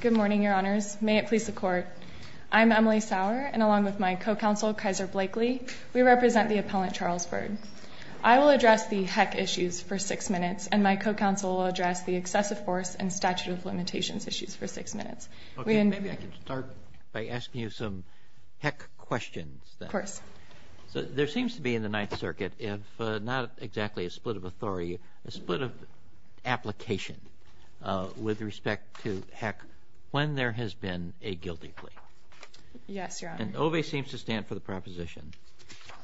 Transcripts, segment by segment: Good morning, Your Honors. May it please the Court, I'm Emily Sauer, and along with my co-counsel, Kaiser Blakely, we represent the appellant, Charles Byrd. I will address the HEC issues for six minutes, and my co-counsel will address the excessive force and statute of limitations issues for six minutes. Okay, maybe I could start by asking you some HEC questions, then. Of course. There seems to be in the Ninth Circuit, if not exactly a split of authority, a split of application with respect to HEC when there has been a guilty plea. Yes, Your Honor. And OVE seems to stand for the proposition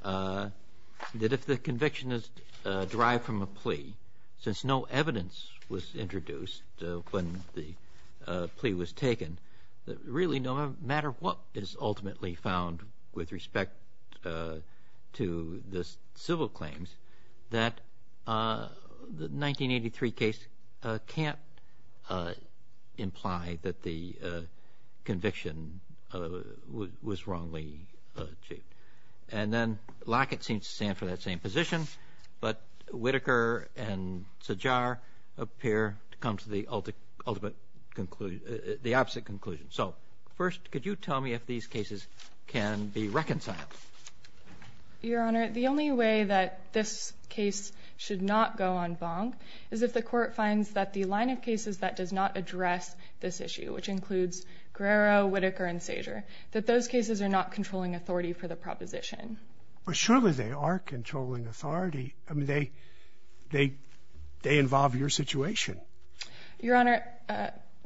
that if the conviction is derived from a plea, since no evidence was introduced when the plea was taken, that really no matter what is ultimately found with respect to the civil claims, that the 1983 case can't imply that the conviction was wrongly achieved. And then Lackett seems to stand for that same position, but Whitaker and Sajjar appear to come to the opposite conclusion. So, first, could you tell me if these cases can be reconciled? Your Honor, the only way that this case should not go en banc is if the Court finds that the line of cases that does not address this issue, which includes Guerrero, Whitaker, and Sajjar, that those cases are not controlling authority for the proposition. But surely they are controlling authority. I mean, they involve your situation. Your Honor,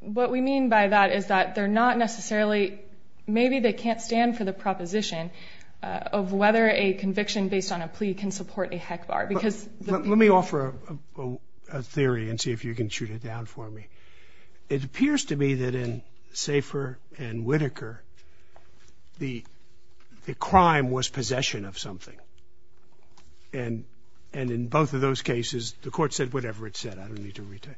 what we mean by that is that they're not necessarily, maybe they can't stand for the proposition of whether a conviction based on a plea can support a HEC bar. Let me offer a theory and see if you can shoot it down for me. It appears to me that in Sajjar and Whitaker, the crime was possession of something. And in both of those cases, the Court said whatever it said. I don't need to retell.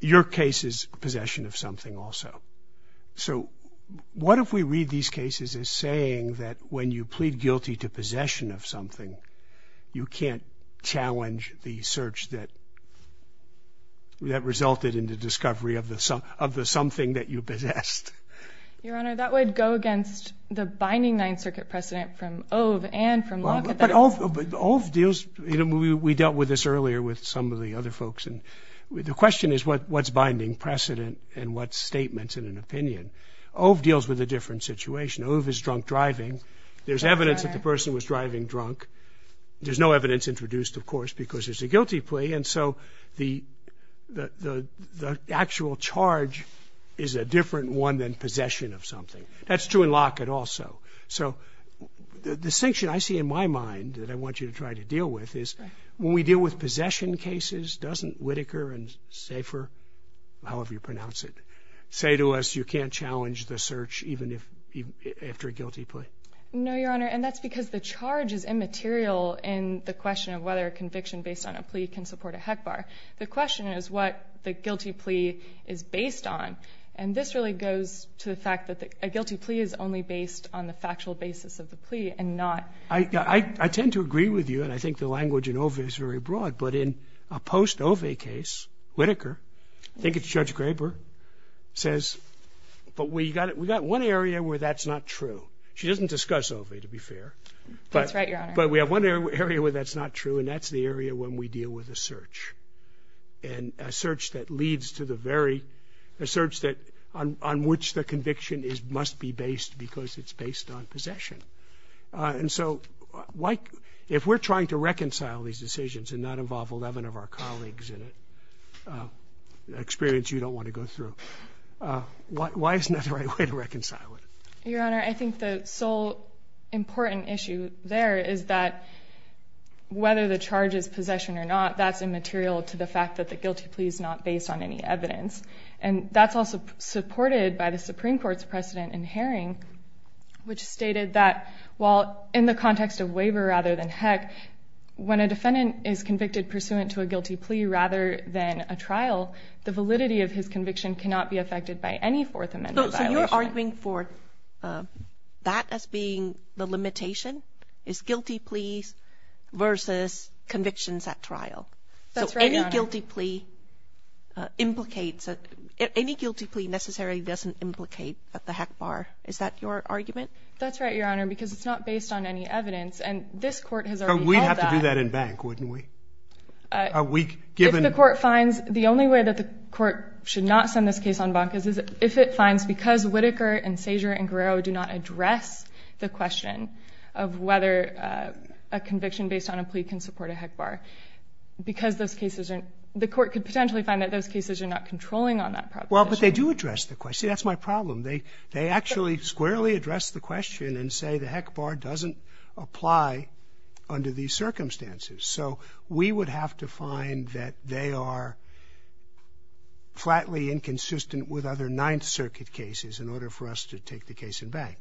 Your case is possession of something also. So what if we read these cases as saying that when you plead guilty to possession of something, you can't challenge the search that resulted in the discovery of the something that you possessed? Your Honor, that would go against the binding Ninth Circuit precedent from Ove and from Locke. Ove deals, we dealt with this earlier with some of the other folks. The question is what's binding precedent and what's statements in an opinion? Ove deals with a different situation. Ove is drunk driving. There's evidence that the person was driving drunk. There's no evidence introduced, of course, because it's a guilty plea. And so the actual charge is a different one than possession of something. That's true in Locke also. So the distinction I see in my mind that I want you to try to deal with is when we deal with possession cases, doesn't Whitaker and Safer, however you pronounce it, say to us you can't challenge the search even after a guilty plea? No, Your Honor, and that's because the charge is immaterial in the question of whether a conviction based on a plea can support a HEC bar. The question is what the guilty plea is based on. And this really goes to the fact that a guilty plea is only based on the factual basis of the plea and not. I tend to agree with you, and I think the language in Ove is very broad. But in a post-Ove case, Whitaker, I think it's Judge Graber, says, but we got one area where that's not true. She doesn't discuss Ove, to be fair. That's right, Your Honor. But we have one area where that's not true, and that's the area when we deal with a search. And a search that leads to the very, a search on which the conviction must be based because it's based on possession. And so if we're trying to reconcile these decisions and not involve 11 of our colleagues in it, an experience you don't want to go through, why isn't that the right way to reconcile it? Your Honor, I think the sole important issue there is that whether the charge is possession or not, that's immaterial to the fact that the guilty plea is not based on any evidence. And that's also supported by the Supreme Court's precedent in Haring, which stated that while in the context of waiver rather than HEC, when a defendant is convicted pursuant to a guilty plea rather than a trial, the validity of his conviction cannot be affected by any Fourth Amendment violation. So you're arguing for that as being the limitation, is guilty pleas versus convictions at trial. That's right, Your Honor. So any guilty plea implicates, any guilty plea necessarily doesn't implicate at the HEC bar. Is that your argument? That's right, Your Honor, because it's not based on any evidence. And this Court has already called that. But we'd have to do that in Bank, wouldn't we? If the Court finds, the only way that the Court should not send this case on Bank is if it finds because Whitaker and Sazer and Guerrero do not address the question of whether a conviction based on a plea can support a HEC bar, because those cases are, the Court could potentially find that those cases are not controlling on that proposition. Well, but they do address the question. See, that's my problem. They actually squarely address the question and say the HEC bar doesn't apply under these circumstances. So we would have to find that they are flatly inconsistent with other Ninth Circuit cases in order for us to take the case in Bank.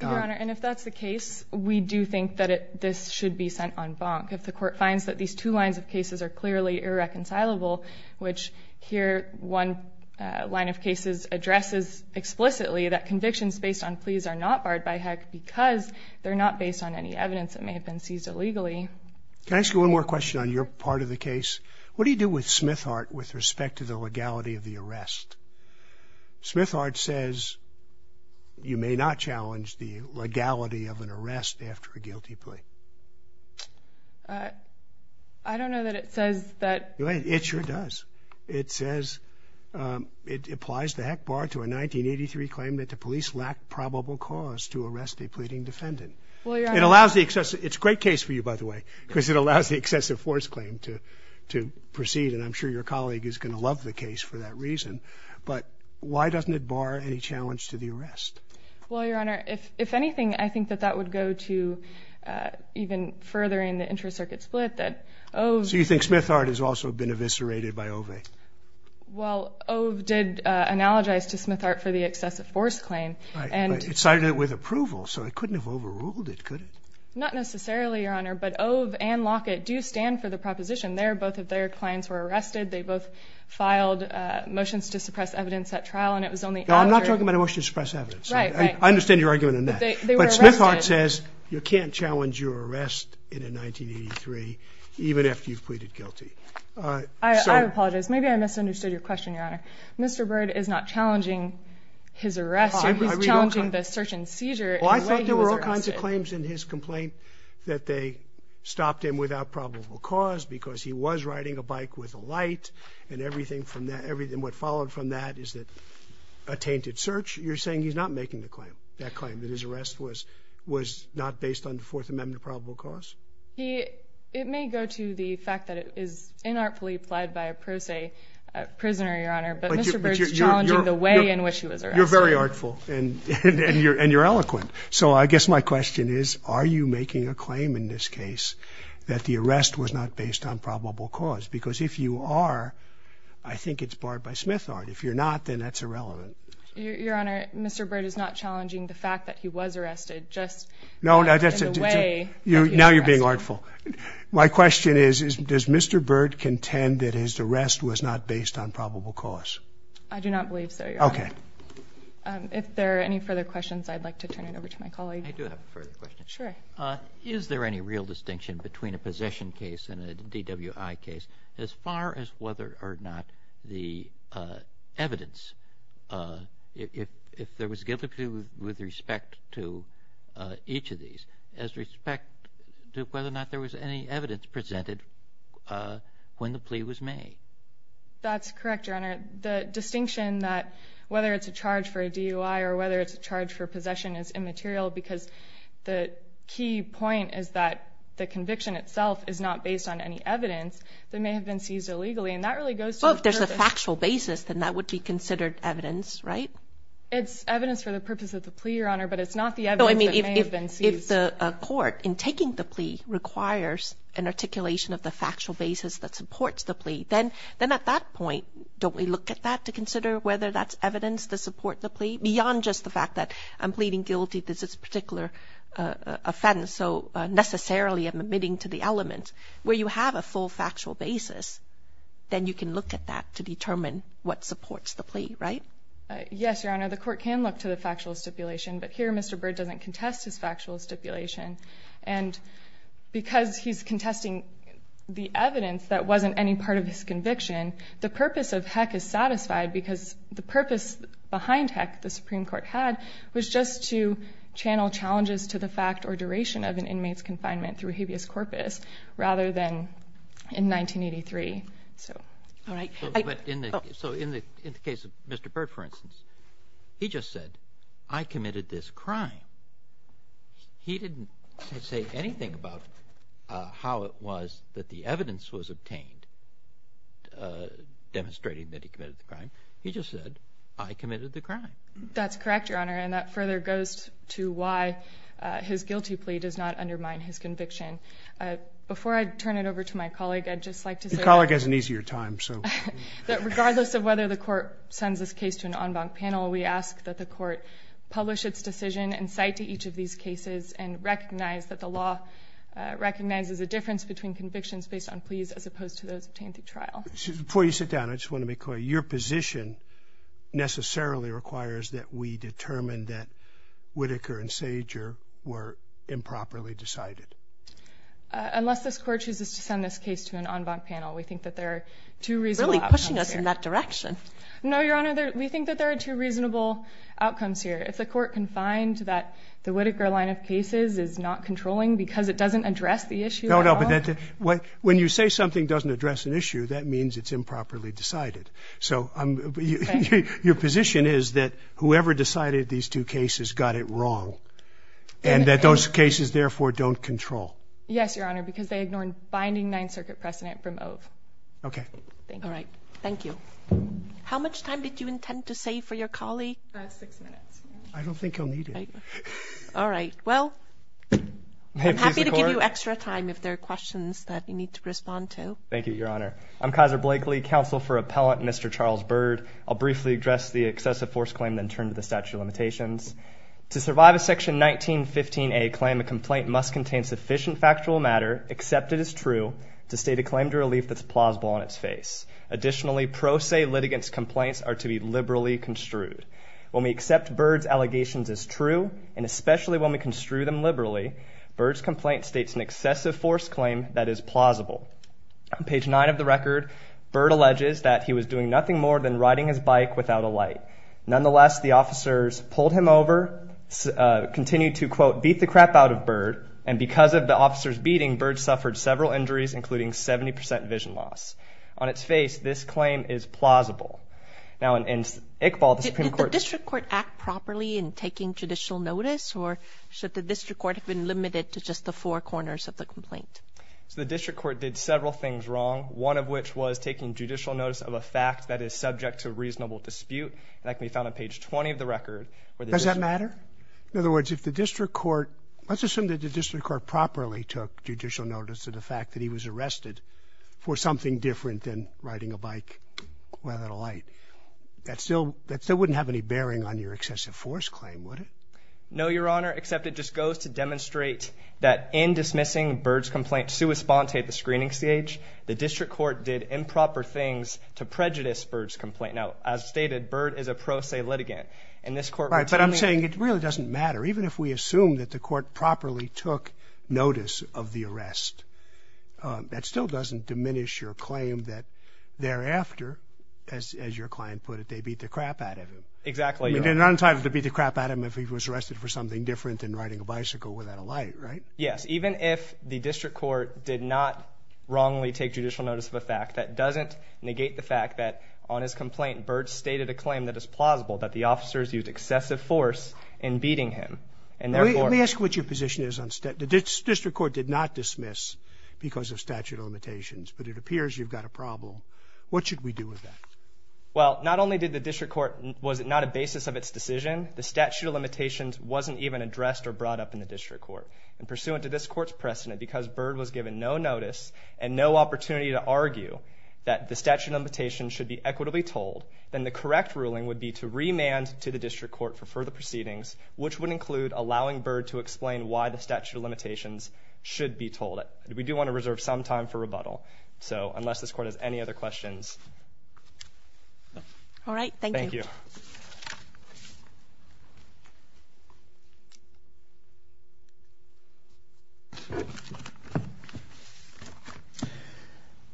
Your Honor, and if that's the case, we do think that this should be sent on Bank. If the Court finds that these two lines of cases are clearly irreconcilable, which here one line of cases addresses explicitly that convictions based on pleas are not barred by HEC because they're not based on any evidence that may have been seized illegally. Can I ask you one more question on your part of the case? What do you do with Smithart with respect to the legality of the arrest? Smithart says you may not challenge the legality of an arrest after a guilty plea. I don't know that it says that. It sure does. It says it applies the HEC bar to a 1983 claim that the police lacked probable cause to arrest a pleading defendant. It's a great case for you, by the way, because it allows the excessive force claim to proceed, and I'm sure your colleague is going to love the case for that reason. But why doesn't it bar any challenge to the arrest? Well, Your Honor, if anything, I think that that would go to even furthering the Inter-Circuit split. So you think Smithart has also been eviscerated by OVE? Well, OVE did analogize to Smithart for the excessive force claim. It cited it with approval, so it couldn't have overruled it, could it? Not necessarily, Your Honor, but OVE and Lockett do stand for the proposition. They're both of their clients were arrested. They both filed motions to suppress evidence at trial, and it was only after – No, I'm not talking about a motion to suppress evidence. Right, right. I understand your argument on that. They were arrested. Smithart says you can't challenge your arrest in a 1983 even after you've pleaded guilty. I apologize. Maybe I misunderstood your question, Your Honor. Mr. Byrd is not challenging his arrest. He's challenging the search and seizure in the way he was arrested. Well, I thought there were all kinds of claims in his complaint that they stopped him without probable cause because he was riding a bike with a light and everything from that. What followed from that is a tainted search. You're saying he's not making that claim, that his arrest was not based on the Fourth Amendment of probable cause? It may go to the fact that it is inartfully pled by a pro se prisoner, Your Honor, but Mr. Byrd is challenging the way in which he was arrested. You're very artful, and you're eloquent. So I guess my question is, are you making a claim in this case that the arrest was not based on probable cause? Because if you are, I think it's barred by Smithart. If you're not, then that's irrelevant. Your Honor, Mr. Byrd is not challenging the fact that he was arrested, just in the way that he was arrested. Now you're being artful. My question is, does Mr. Byrd contend that his arrest was not based on probable cause? I do not believe so, Your Honor. Okay. If there are any further questions, I'd like to turn it over to my colleague. I do have a further question. Sure. Is there any real distinction between a possession case and a DWI case as far as whether or not the evidence, if there was guilty plea with respect to each of these, as respect to whether or not there was any evidence presented when the plea was made? That's correct, Your Honor. The distinction that whether it's a charge for a DUI or whether it's a charge for possession is immaterial because the key point is that the conviction itself is not based on any evidence that may have been seized illegally, and that really goes to the purpose. Well, if there's a factual basis, then that would be considered evidence, right? It's evidence for the purpose of the plea, Your Honor, but it's not the evidence that may have been seized. No, I mean if the court, in taking the plea, requires an articulation of the factual basis that supports the plea, then at that point, don't we look at that to consider whether that's evidence to support the plea, beyond just the fact that I'm pleading guilty to this particular offense, so necessarily I'm admitting to the element, where you have a full factual basis, then you can look at that to determine what supports the plea, right? Yes, Your Honor. The court can look to the factual stipulation, but here Mr. Bird doesn't contest his factual stipulation, and because he's contesting the evidence that wasn't any part of his conviction, the purpose of Heck is satisfied because the purpose behind Heck, the Supreme Court had, was just to channel challenges to the fact or duration of an inmate's confinement through habeas corpus, rather than in 1983, so. All right. So in the case of Mr. Bird, for instance, he just said, I committed this crime. He didn't say anything about how it was that the evidence was obtained, demonstrating that he committed the crime. He just said, I committed the crime. That's correct, Your Honor, and that further goes to why his guilty plea does not undermine his conviction. Before I turn it over to my colleague, I'd just like to say that. Your colleague has an easier time, so. Regardless of whether the court sends this case to an en banc panel, we ask that the court publish its decision and cite to each of these cases and recognize that the law recognizes the difference between convictions based on pleas, as opposed to those obtained through trial. Before you sit down, I just want to make clear, your position necessarily requires that we determine that Whitaker and Sager were improperly decided. Unless this court chooses to send this case to an en banc panel, we think that there are two reasonable options here. You're really pushing us in that direction. No, Your Honor, we think that there are two reasonable outcomes here. If the court can find that the Whitaker line of cases is not controlling because it doesn't address the issue at all. No, no, but when you say something doesn't address an issue, that means it's improperly decided. So your position is that whoever decided these two cases got it wrong and that those cases, therefore, don't control. Yes, Your Honor, because they ignored binding Ninth Circuit precedent from Ove. Okay. Thank you. All right. Thank you. How much time did you intend to save for your colleague? Six minutes. I don't think he'll need it. All right. Well, I'm happy to give you extra time if there are questions that you need to respond to. Thank you, Your Honor. I'm Kaiser Blakely, counsel for appellant Mr. Charles Bird. I'll briefly address the excessive force claim and then turn to the statute of limitations. To survive a section 1915A claim, a complaint must contain sufficient factual matter, except it is true, to state a claim to relief that's plausible on its face. Additionally, pro se litigants' complaints are to be liberally construed. When we accept Bird's allegations as true, and especially when we construe them liberally, Bird's complaint states an excessive force claim that is plausible. On page 9 of the record, Bird alleges that he was doing nothing more than riding his bike without a light. Nonetheless, the officers pulled him over, continued to, quote, beat the crap out of Bird, and because of the officers' beating, Bird suffered several injuries, including 70 percent vision loss. On its face, this claim is plausible. Now, in Iqbal, the Supreme Court— Did the district court act properly in taking judicial notice, or should the district court have been limited to just the four corners of the complaint? So the district court did several things wrong, one of which was taking judicial notice of a fact that is subject to reasonable dispute, and that can be found on page 20 of the record. Does that matter? In other words, if the district court— let's assume that the district court properly took judicial notice of the fact that he was arrested for something different than riding a bike without a light. That still wouldn't have any bearing on your excessive force claim, would it? No, Your Honor, except it just goes to demonstrate that in dismissing Bird's complaint sua sponte at the screening stage, the district court did improper things to prejudice Bird's complaint. Now, as stated, Bird is a pro se litigant, and this court— All right, but I'm saying it really doesn't matter. Even if we assume that the court properly took notice of the arrest, that still doesn't diminish your claim that thereafter, as your client put it, they beat the crap out of him. Exactly. I mean, they're not entitled to beat the crap out of him if he was arrested for something different than riding a bicycle without a light, right? Yes. Even if the district court did not wrongly take judicial notice of a fact, that doesn't negate the fact that on his complaint, Bird stated a claim that is plausible, that the officers used excessive force in beating him. And therefore— Let me ask what your position is on— The district court did not dismiss because of statute of limitations, but it appears you've got a problem. What should we do with that? Well, not only was it not a basis of its decision, the statute of limitations wasn't even addressed or brought up in the district court. And pursuant to this court's precedent, because Bird was given no notice and no opportunity to argue that the statute of limitations should be equitably told, then the correct ruling would be to remand to the district court for further proceedings, which would include allowing Bird to explain why the statute of limitations should be told. We do want to reserve some time for rebuttal. So unless this court has any other questions— All right. Thank you. Thank you.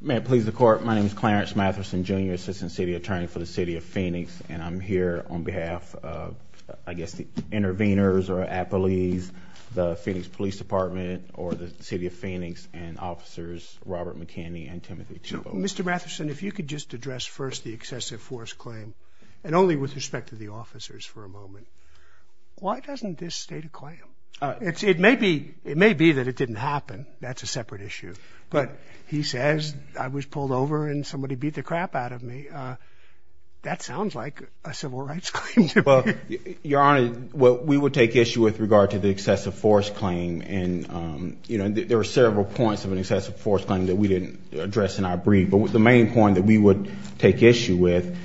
May it please the Court. My name is Clarence Matherson, Jr., Assistant City Attorney for the City of Phoenix, and I'm here on behalf of, I guess, the interveners or appellees, the Phoenix Police Department or the City of Phoenix, and officers Robert McKinney and Timothy Tebow. Mr. Matherson, if you could just address first the excessive force claim, and only with respect to the officers for a moment. Why doesn't this state a claim? It may be that it didn't happen. That's a separate issue. But he says, I was pulled over and somebody beat the crap out of me. That sounds like a civil rights claim to me. Well, Your Honor, we would take issue with regard to the excessive force claim. And, you know, there are several points of an excessive force claim that we didn't address in our brief. But the main point that we would take issue with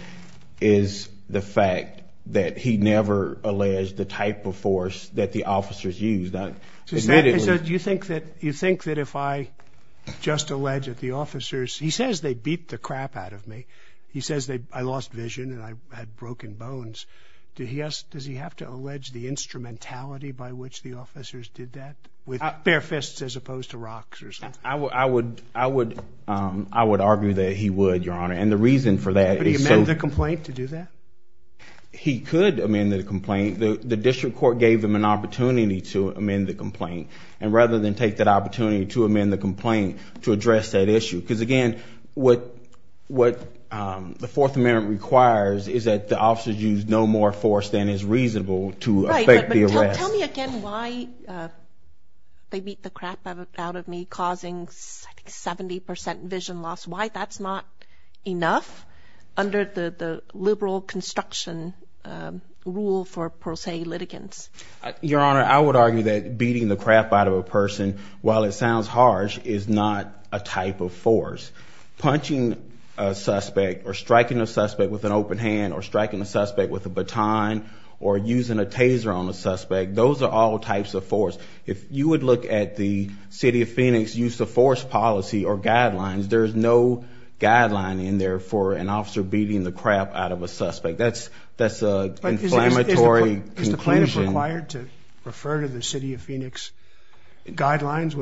is the fact that he never alleged the type of force that the officers used. Do you think that if I just allege that the officers, he says they beat the crap out of me. He says I lost vision and I had broken bones. Does he have to allege the instrumentality by which the officers did that with bare fists as opposed to rocks or something? I would argue that he would, Your Honor. And the reason for that is so. But he amended the complaint to do that? He could amend the complaint. The district court gave him an opportunity to amend the complaint. And rather than take that opportunity to amend the complaint to address that issue. Because, again, what the Fourth Amendment requires is that the officers use no more force than is reasonable to affect the arrest. Tell me again why they beat the crap out of me, causing 70 percent vision loss. Why that's not enough under the liberal construction rule for pro se litigants. Your Honor, I would argue that beating the crap out of a person, while it sounds harsh, is not a type of force. Punching a suspect or striking a suspect with an open hand or striking a suspect with a baton or using a taser on a suspect. Those are all types of force. If you would look at the City of Phoenix use of force policy or guidelines, there is no guideline in there for an officer beating the crap out of a suspect. That's an inflammatory conclusion. Is the plaintiff required to refer to the City of Phoenix guidelines?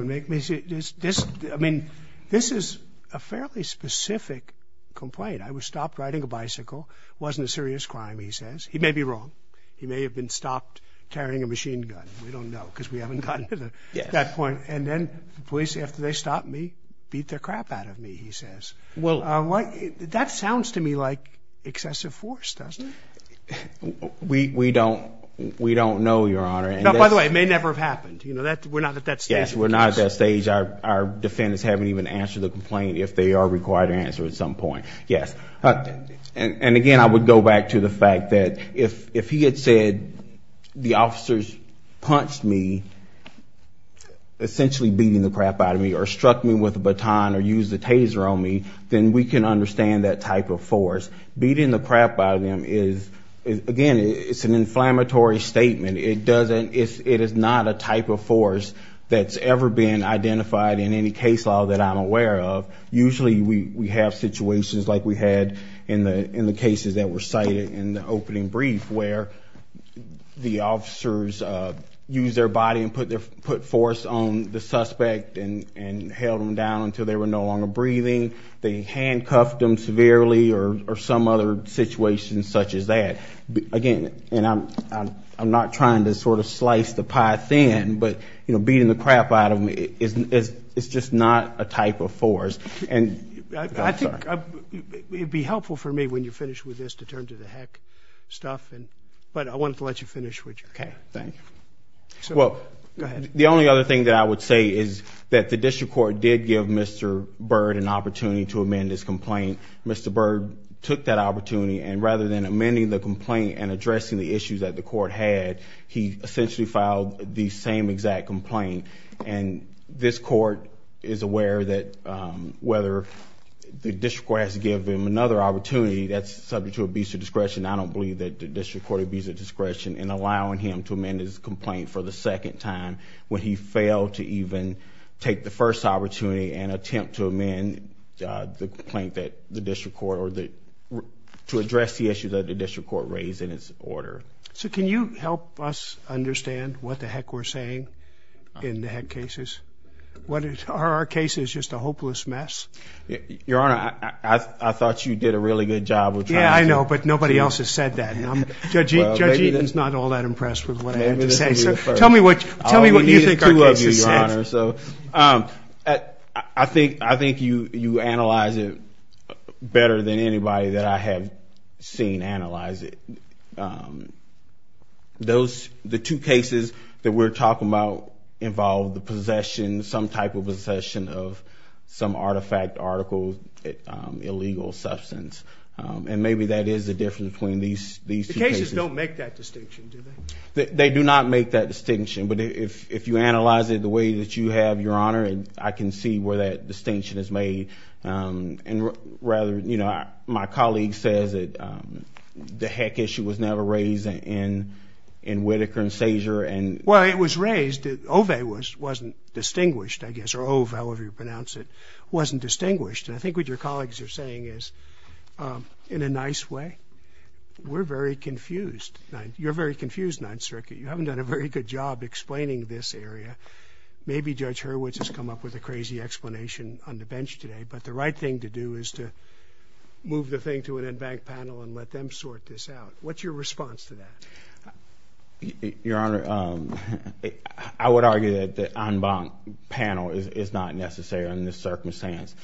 I mean, this is a fairly specific complaint. I was stopped riding a bicycle. It wasn't a serious crime, he says. He may be wrong. He may have been stopped carrying a machine gun. We don't know because we haven't gotten to that point. And then the police, after they stopped me, beat the crap out of me, he says. That sounds to me like excessive force, doesn't it? We don't know, Your Honor. By the way, it may never have happened. We're not at that stage. Yes, we're not at that stage. Our defendants haven't even answered the complaint, if they are required to answer at some point. And, again, I would go back to the fact that if he had said the officers punched me, essentially beating the crap out of me, or struck me with a baton or used a taser on me, then we can understand that type of force. Beating the crap out of him is, again, it's an inflammatory statement. It is not a type of force that's ever been identified in any case law that I'm aware of. Usually we have situations like we had in the cases that were cited in the opening brief, where the officers used their body and put force on the suspect and held him down until they were no longer breathing. They handcuffed him severely or some other situation such as that. Again, and I'm not trying to sort of slice the pie thin, but beating the crap out of him is just not a type of force. I think it would be helpful for me when you finish with this to turn to the heck stuff, but I wanted to let you finish what you're doing. The only other thing that I would say is that the district court did give Mr. Byrd an opportunity to amend his complaint. Mr. Byrd took that opportunity, and rather than amending the complaint and addressing the issues that the court had, he essentially filed the same exact complaint. This court is aware that whether the district court has given him another opportunity, that's subject to abuse of discretion. I don't believe that the district court abused of discretion in allowing him to amend his complaint for the second time when he failed to even take the first opportunity and attempt to amend the complaint that the district court, or to address the issues that the district court raised in its order. So can you help us understand what the heck we're saying in the heck cases? Are our cases just a hopeless mess? Your Honor, I thought you did a really good job. Yeah, I know, but nobody else has said that. Judge Eaton's not all that impressed with what I had to say. Tell me what you think our cases said. I think you analyze it better than anybody that I have seen analyze it. The two cases that we're talking about involve the possession, some type of possession of some artifact, article, illegal substance. And maybe that is the difference between these two cases. The two cases don't make that distinction, do they? They do not make that distinction, but if you analyze it the way that you have, Your Honor, I can see where that distinction is made. My colleague says that the heck issue was never raised in Whitaker and Sazer. Well, it was raised. Ove wasn't distinguished, I guess, or Ove, however you pronounce it, wasn't distinguished. And I think what your colleagues are saying is, in a nice way, we're very confused. You're very confused, Ninth Circuit. You haven't done a very good job explaining this area. Maybe Judge Hurwitz has come up with a crazy explanation on the bench today, but the right thing to do is to move the thing to an en banc panel and let them sort this out. What's your response to that? Your Honor, I would argue that the en banc panel is not necessary in this circumstance.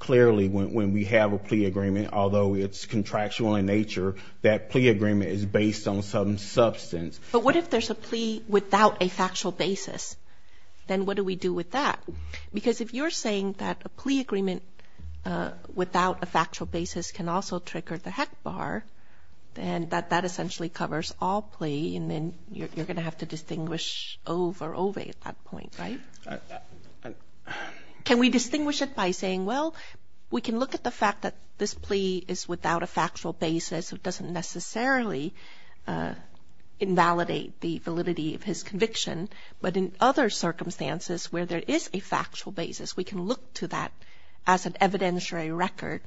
Clearly, when we have a plea agreement, although it's contractual in nature, that plea agreement is based on some substance. But what if there's a plea without a factual basis? Then what do we do with that? Because if you're saying that a plea agreement without a factual basis can also trigger the heck bar, then that essentially covers all plea, and then you're going to have to distinguish Ove or Ove at that point, right? Can we distinguish it by saying, well, we can look at the fact that this plea is without a factual basis, it doesn't necessarily invalidate the validity of his conviction, but in other circumstances where there is a factual basis, we can look to that as an evidentiary record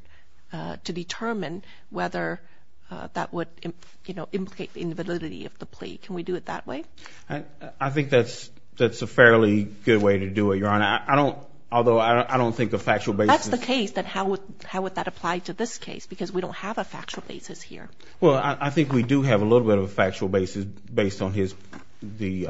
to determine whether that would, you know, implicate the invalidity of the plea. Can we do it that way? I think that's a fairly good way to do it, Your Honor. I mean, I don't, although I don't think a factual basis... That's the case, but how would that apply to this case? Because we don't have a factual basis here. Well, I think we do have a little bit of a factual basis based on his, the...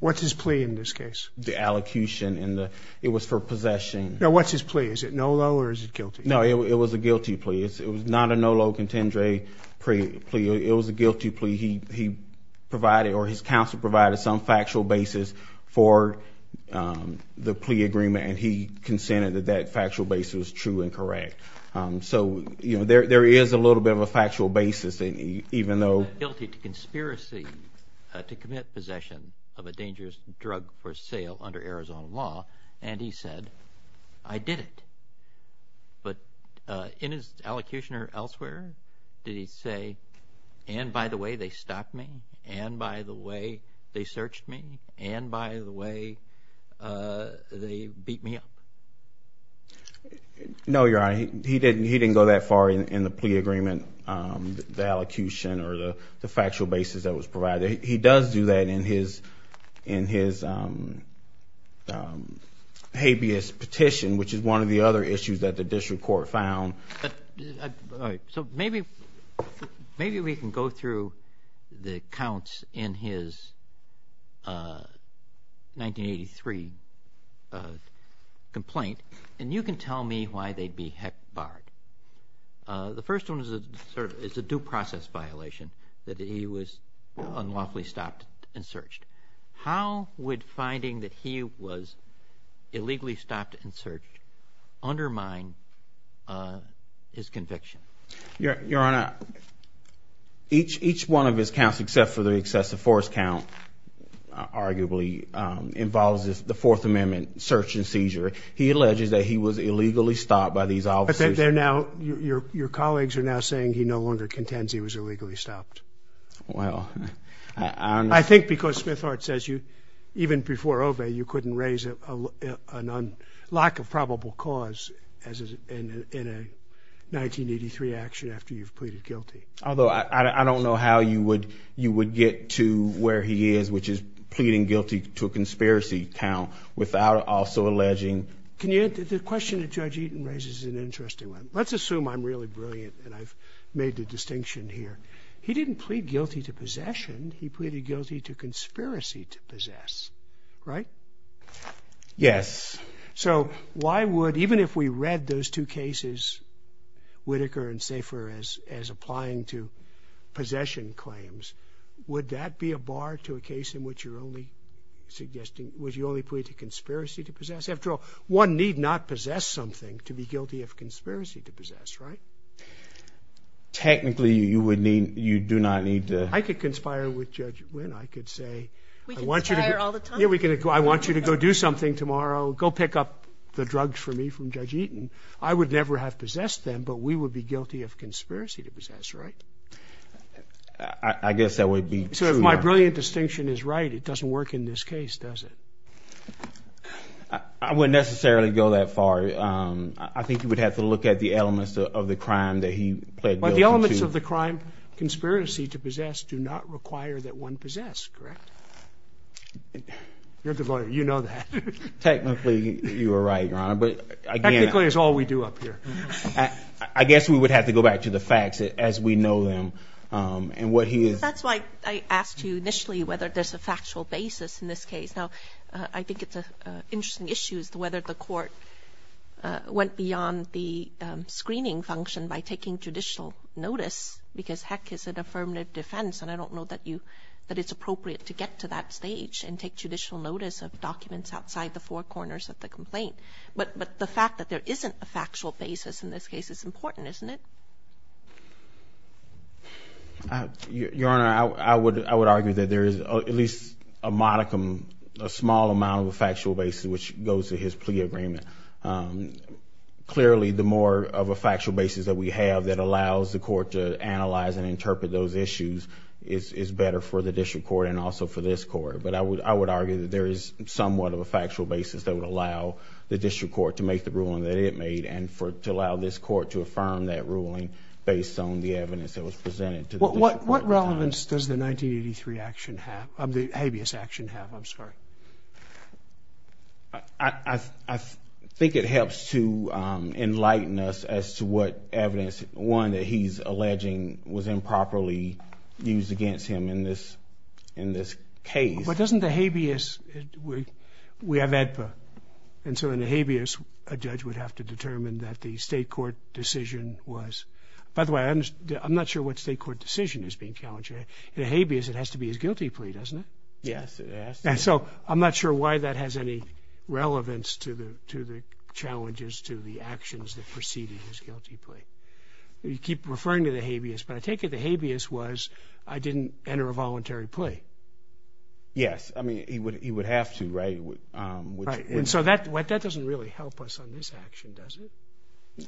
What's his plea in this case? The allocution and the, it was for possession. No, what's his plea? Is it no-lo or is it guilty? No, it was a guilty plea. It was not a no-lo contendere plea. It was a guilty plea. He provided or his counsel provided some factual basis for the plea agreement, and he consented that that factual basis was true and correct. So, you know, there is a little bit of a factual basis, even though... He said guilty to conspiracy to commit possession of a dangerous drug for sale under Arizona law, and he said, I did it. But in his allocution or elsewhere, did he say, and by the way, they stopped me, and by the way, they searched me, and by the way, they beat me up? No, Your Honor, he didn't go that far in the plea agreement, the allocution or the factual basis that was provided. He does do that in his habeas petition, which is one of the other issues that the district court found. So maybe we can go through the accounts in his 1983 complaint. And you can tell me why they'd be heck barred. The first one is a due process violation, that he was unlawfully stopped and searched. How would finding that he was illegally stopped and searched undermine his conviction? Your Honor, each one of his counts, except for the excessive force count, which arguably involves the Fourth Amendment search and seizure, he alleges that he was illegally stopped by these officers. But they're now, your colleagues are now saying he no longer contends he was illegally stopped. Well, I don't know. I think because Smithart says you, even before Ove, you couldn't raise a lack of probable cause in a 1983 action after you've pleaded guilty. Although I don't know how you would get to where he is, which is pleading guilty to a conspiracy count without also alleging. The question that Judge Eaton raises is an interesting one. Let's assume I'm really brilliant and I've made the distinction here. He didn't plead guilty to possession. He pleaded guilty to conspiracy to possess, right? Yes. So why would, even if we read those two cases, Whitaker and Safer, as applying to possession claims, would that be a bar to a case in which you're only suggesting, would you only plead to conspiracy to possess? After all, one need not possess something to be guilty of conspiracy to possess, right? Technically, you do not need to. I could conspire with Judge Wynn. I could say, I want you to go do something tomorrow, go pick up the drugs for me from Judge Eaton. I would never have possessed them, but we would be guilty of conspiracy to possess, right? I guess that would be true. So if my brilliant distinction is right, it doesn't work in this case, does it? I wouldn't necessarily go that far. I think you would have to look at the elements of the crime that he pled guilty to. But the elements of the crime conspiracy to possess do not require that one possess, correct? You're a good lawyer. You know that. Technically, you are right, Your Honor. Technically, it's all we do up here. I guess we would have to go back to the facts as we know them. That's why I asked you initially whether there's a factual basis in this case. Now, I think it's an interesting issue as to whether the court went beyond the screening function by taking judicial notice, because heck, is it affirmative defense? And I don't know that it's appropriate to get to that stage and take judicial notice of documents outside the four corners of the complaint. But the fact that there isn't a factual basis in this case is important, isn't it? Your Honor, I would argue that there is at least a modicum, a small amount of a factual basis which goes to his plea agreement. Clearly, the more of a factual basis that we have that allows the court to analyze and interpret those issues is better for the district court and also for this court. But I would argue that there is somewhat of a factual basis that would allow the district court to make the ruling that it made and to allow this court to affirm that ruling based on the evidence that was presented to the district court. What relevance does the 1983 action have, the habeas action have, I'm sorry? I think it helps to enlighten us as to what evidence, one, that he's alleging was improperly used against him in this case. But doesn't the habeas, we have AEDPA, and so in the habeas a judge would have to determine that the state court decision was, by the way, I'm not sure what state court decision is being challenged here. In the habeas it has to be his guilty plea, doesn't it? Yes, it has to be. So I'm not sure why that has any relevance to the challenges, to the actions that preceded his guilty plea. You keep referring to the habeas, but I take it the habeas was I didn't enter a voluntary plea. Yes, I mean he would have to, right? And so that doesn't really help us on this action, does it?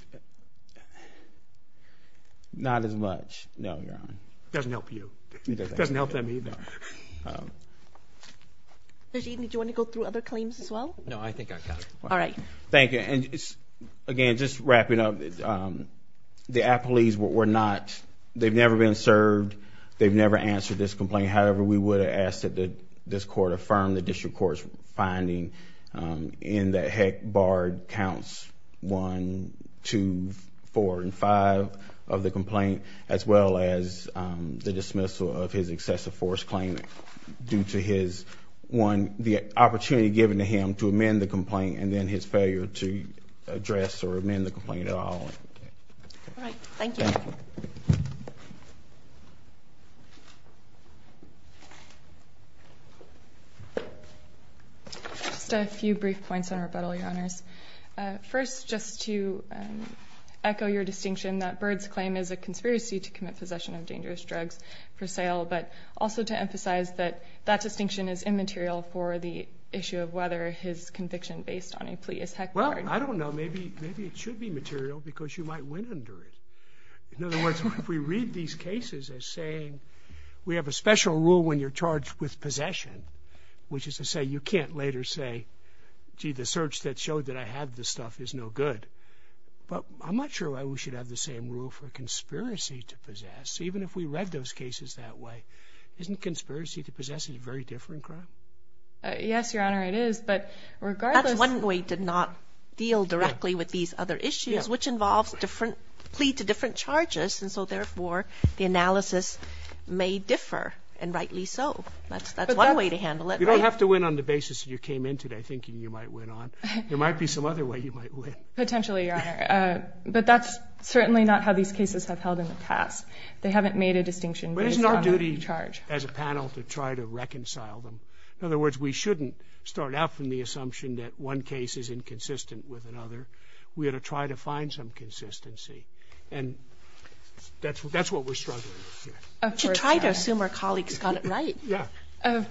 Not as much, no, Your Honor. It doesn't help you. It doesn't help them either. Did you want to go through other claims as well? No, I think I got it. Thank you, and again, just wrapping up, the apologies were not, they've never been served. They've never answered this complaint. However, we would have asked that this court affirm the district court's finding in that Heck, Bard counts one, two, four, and five of the complaint, as well as the dismissal of his excessive force claim due to his one, the opportunity given to him to amend the complaint, and then his failure to address or amend the complaint at all. All right, thank you. Just a few brief points on rebuttal, Your Honors. First, just to echo your distinction that Bird's claim is a conspiracy to commit possession of dangerous drugs for sale, but also to emphasize that that distinction is immaterial for the issue of whether his conviction based on a plea is Heck, Bard. Well, I don't know. Maybe it should be material because you might win under it. In other words, if we read these cases as saying we have a special rule when you're charged with possession, which is to say you can't later say, gee, the search that showed that I had this stuff is no good. But I'm not sure why we should have the same rule for conspiracy to possess. Even if we read those cases that way, isn't conspiracy to possess a very different crime? Yes, Your Honor, it is. But regardless... That's one way to not deal directly with these other issues, which involves different, plea to different charges. And so, therefore, the analysis may differ, and rightly so. That's one way to handle it. You don't have to win on the basis that you came in today thinking you might win on. There might be some other way you might win. Potentially, Your Honor. But that's certainly not how these cases have held in the past. They haven't made a distinction based on a charge. In other words, we shouldn't start out from the assumption that one case is inconsistent with another. We ought to try to find some consistency. And that's what we're struggling with here. Of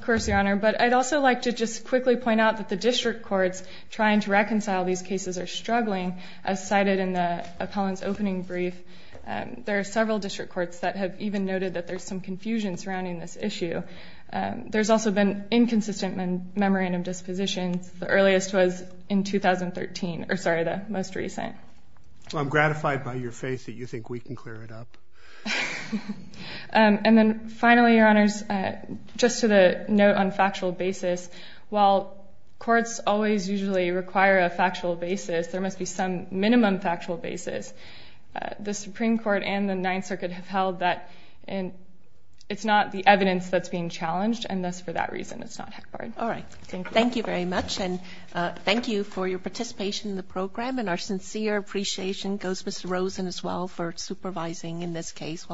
course, Your Honor. But I'd also like to just quickly point out that the district courts trying to reconcile these cases are struggling, as cited in the appellant's opening brief. There are several district courts that have even noted that there's some confusion surrounding this issue. There's also been inconsistent memorandum dispositions. The earliest was in 2013. Or, sorry, the most recent. I'm gratified by your faith that you think we can clear it up. And then finally, Your Honors, just to the note on factual basis, while courts always usually require a factual basis, there must be some minimum factual basis. The Supreme Court and the Ninth Circuit have held that it's not the evidence that's being challenged. And thus, for that reason, it's not headquartered. Thank you very much, and thank you for your participation in the program. And our sincere appreciation goes to Mr. Rosen as well for supervising in this case.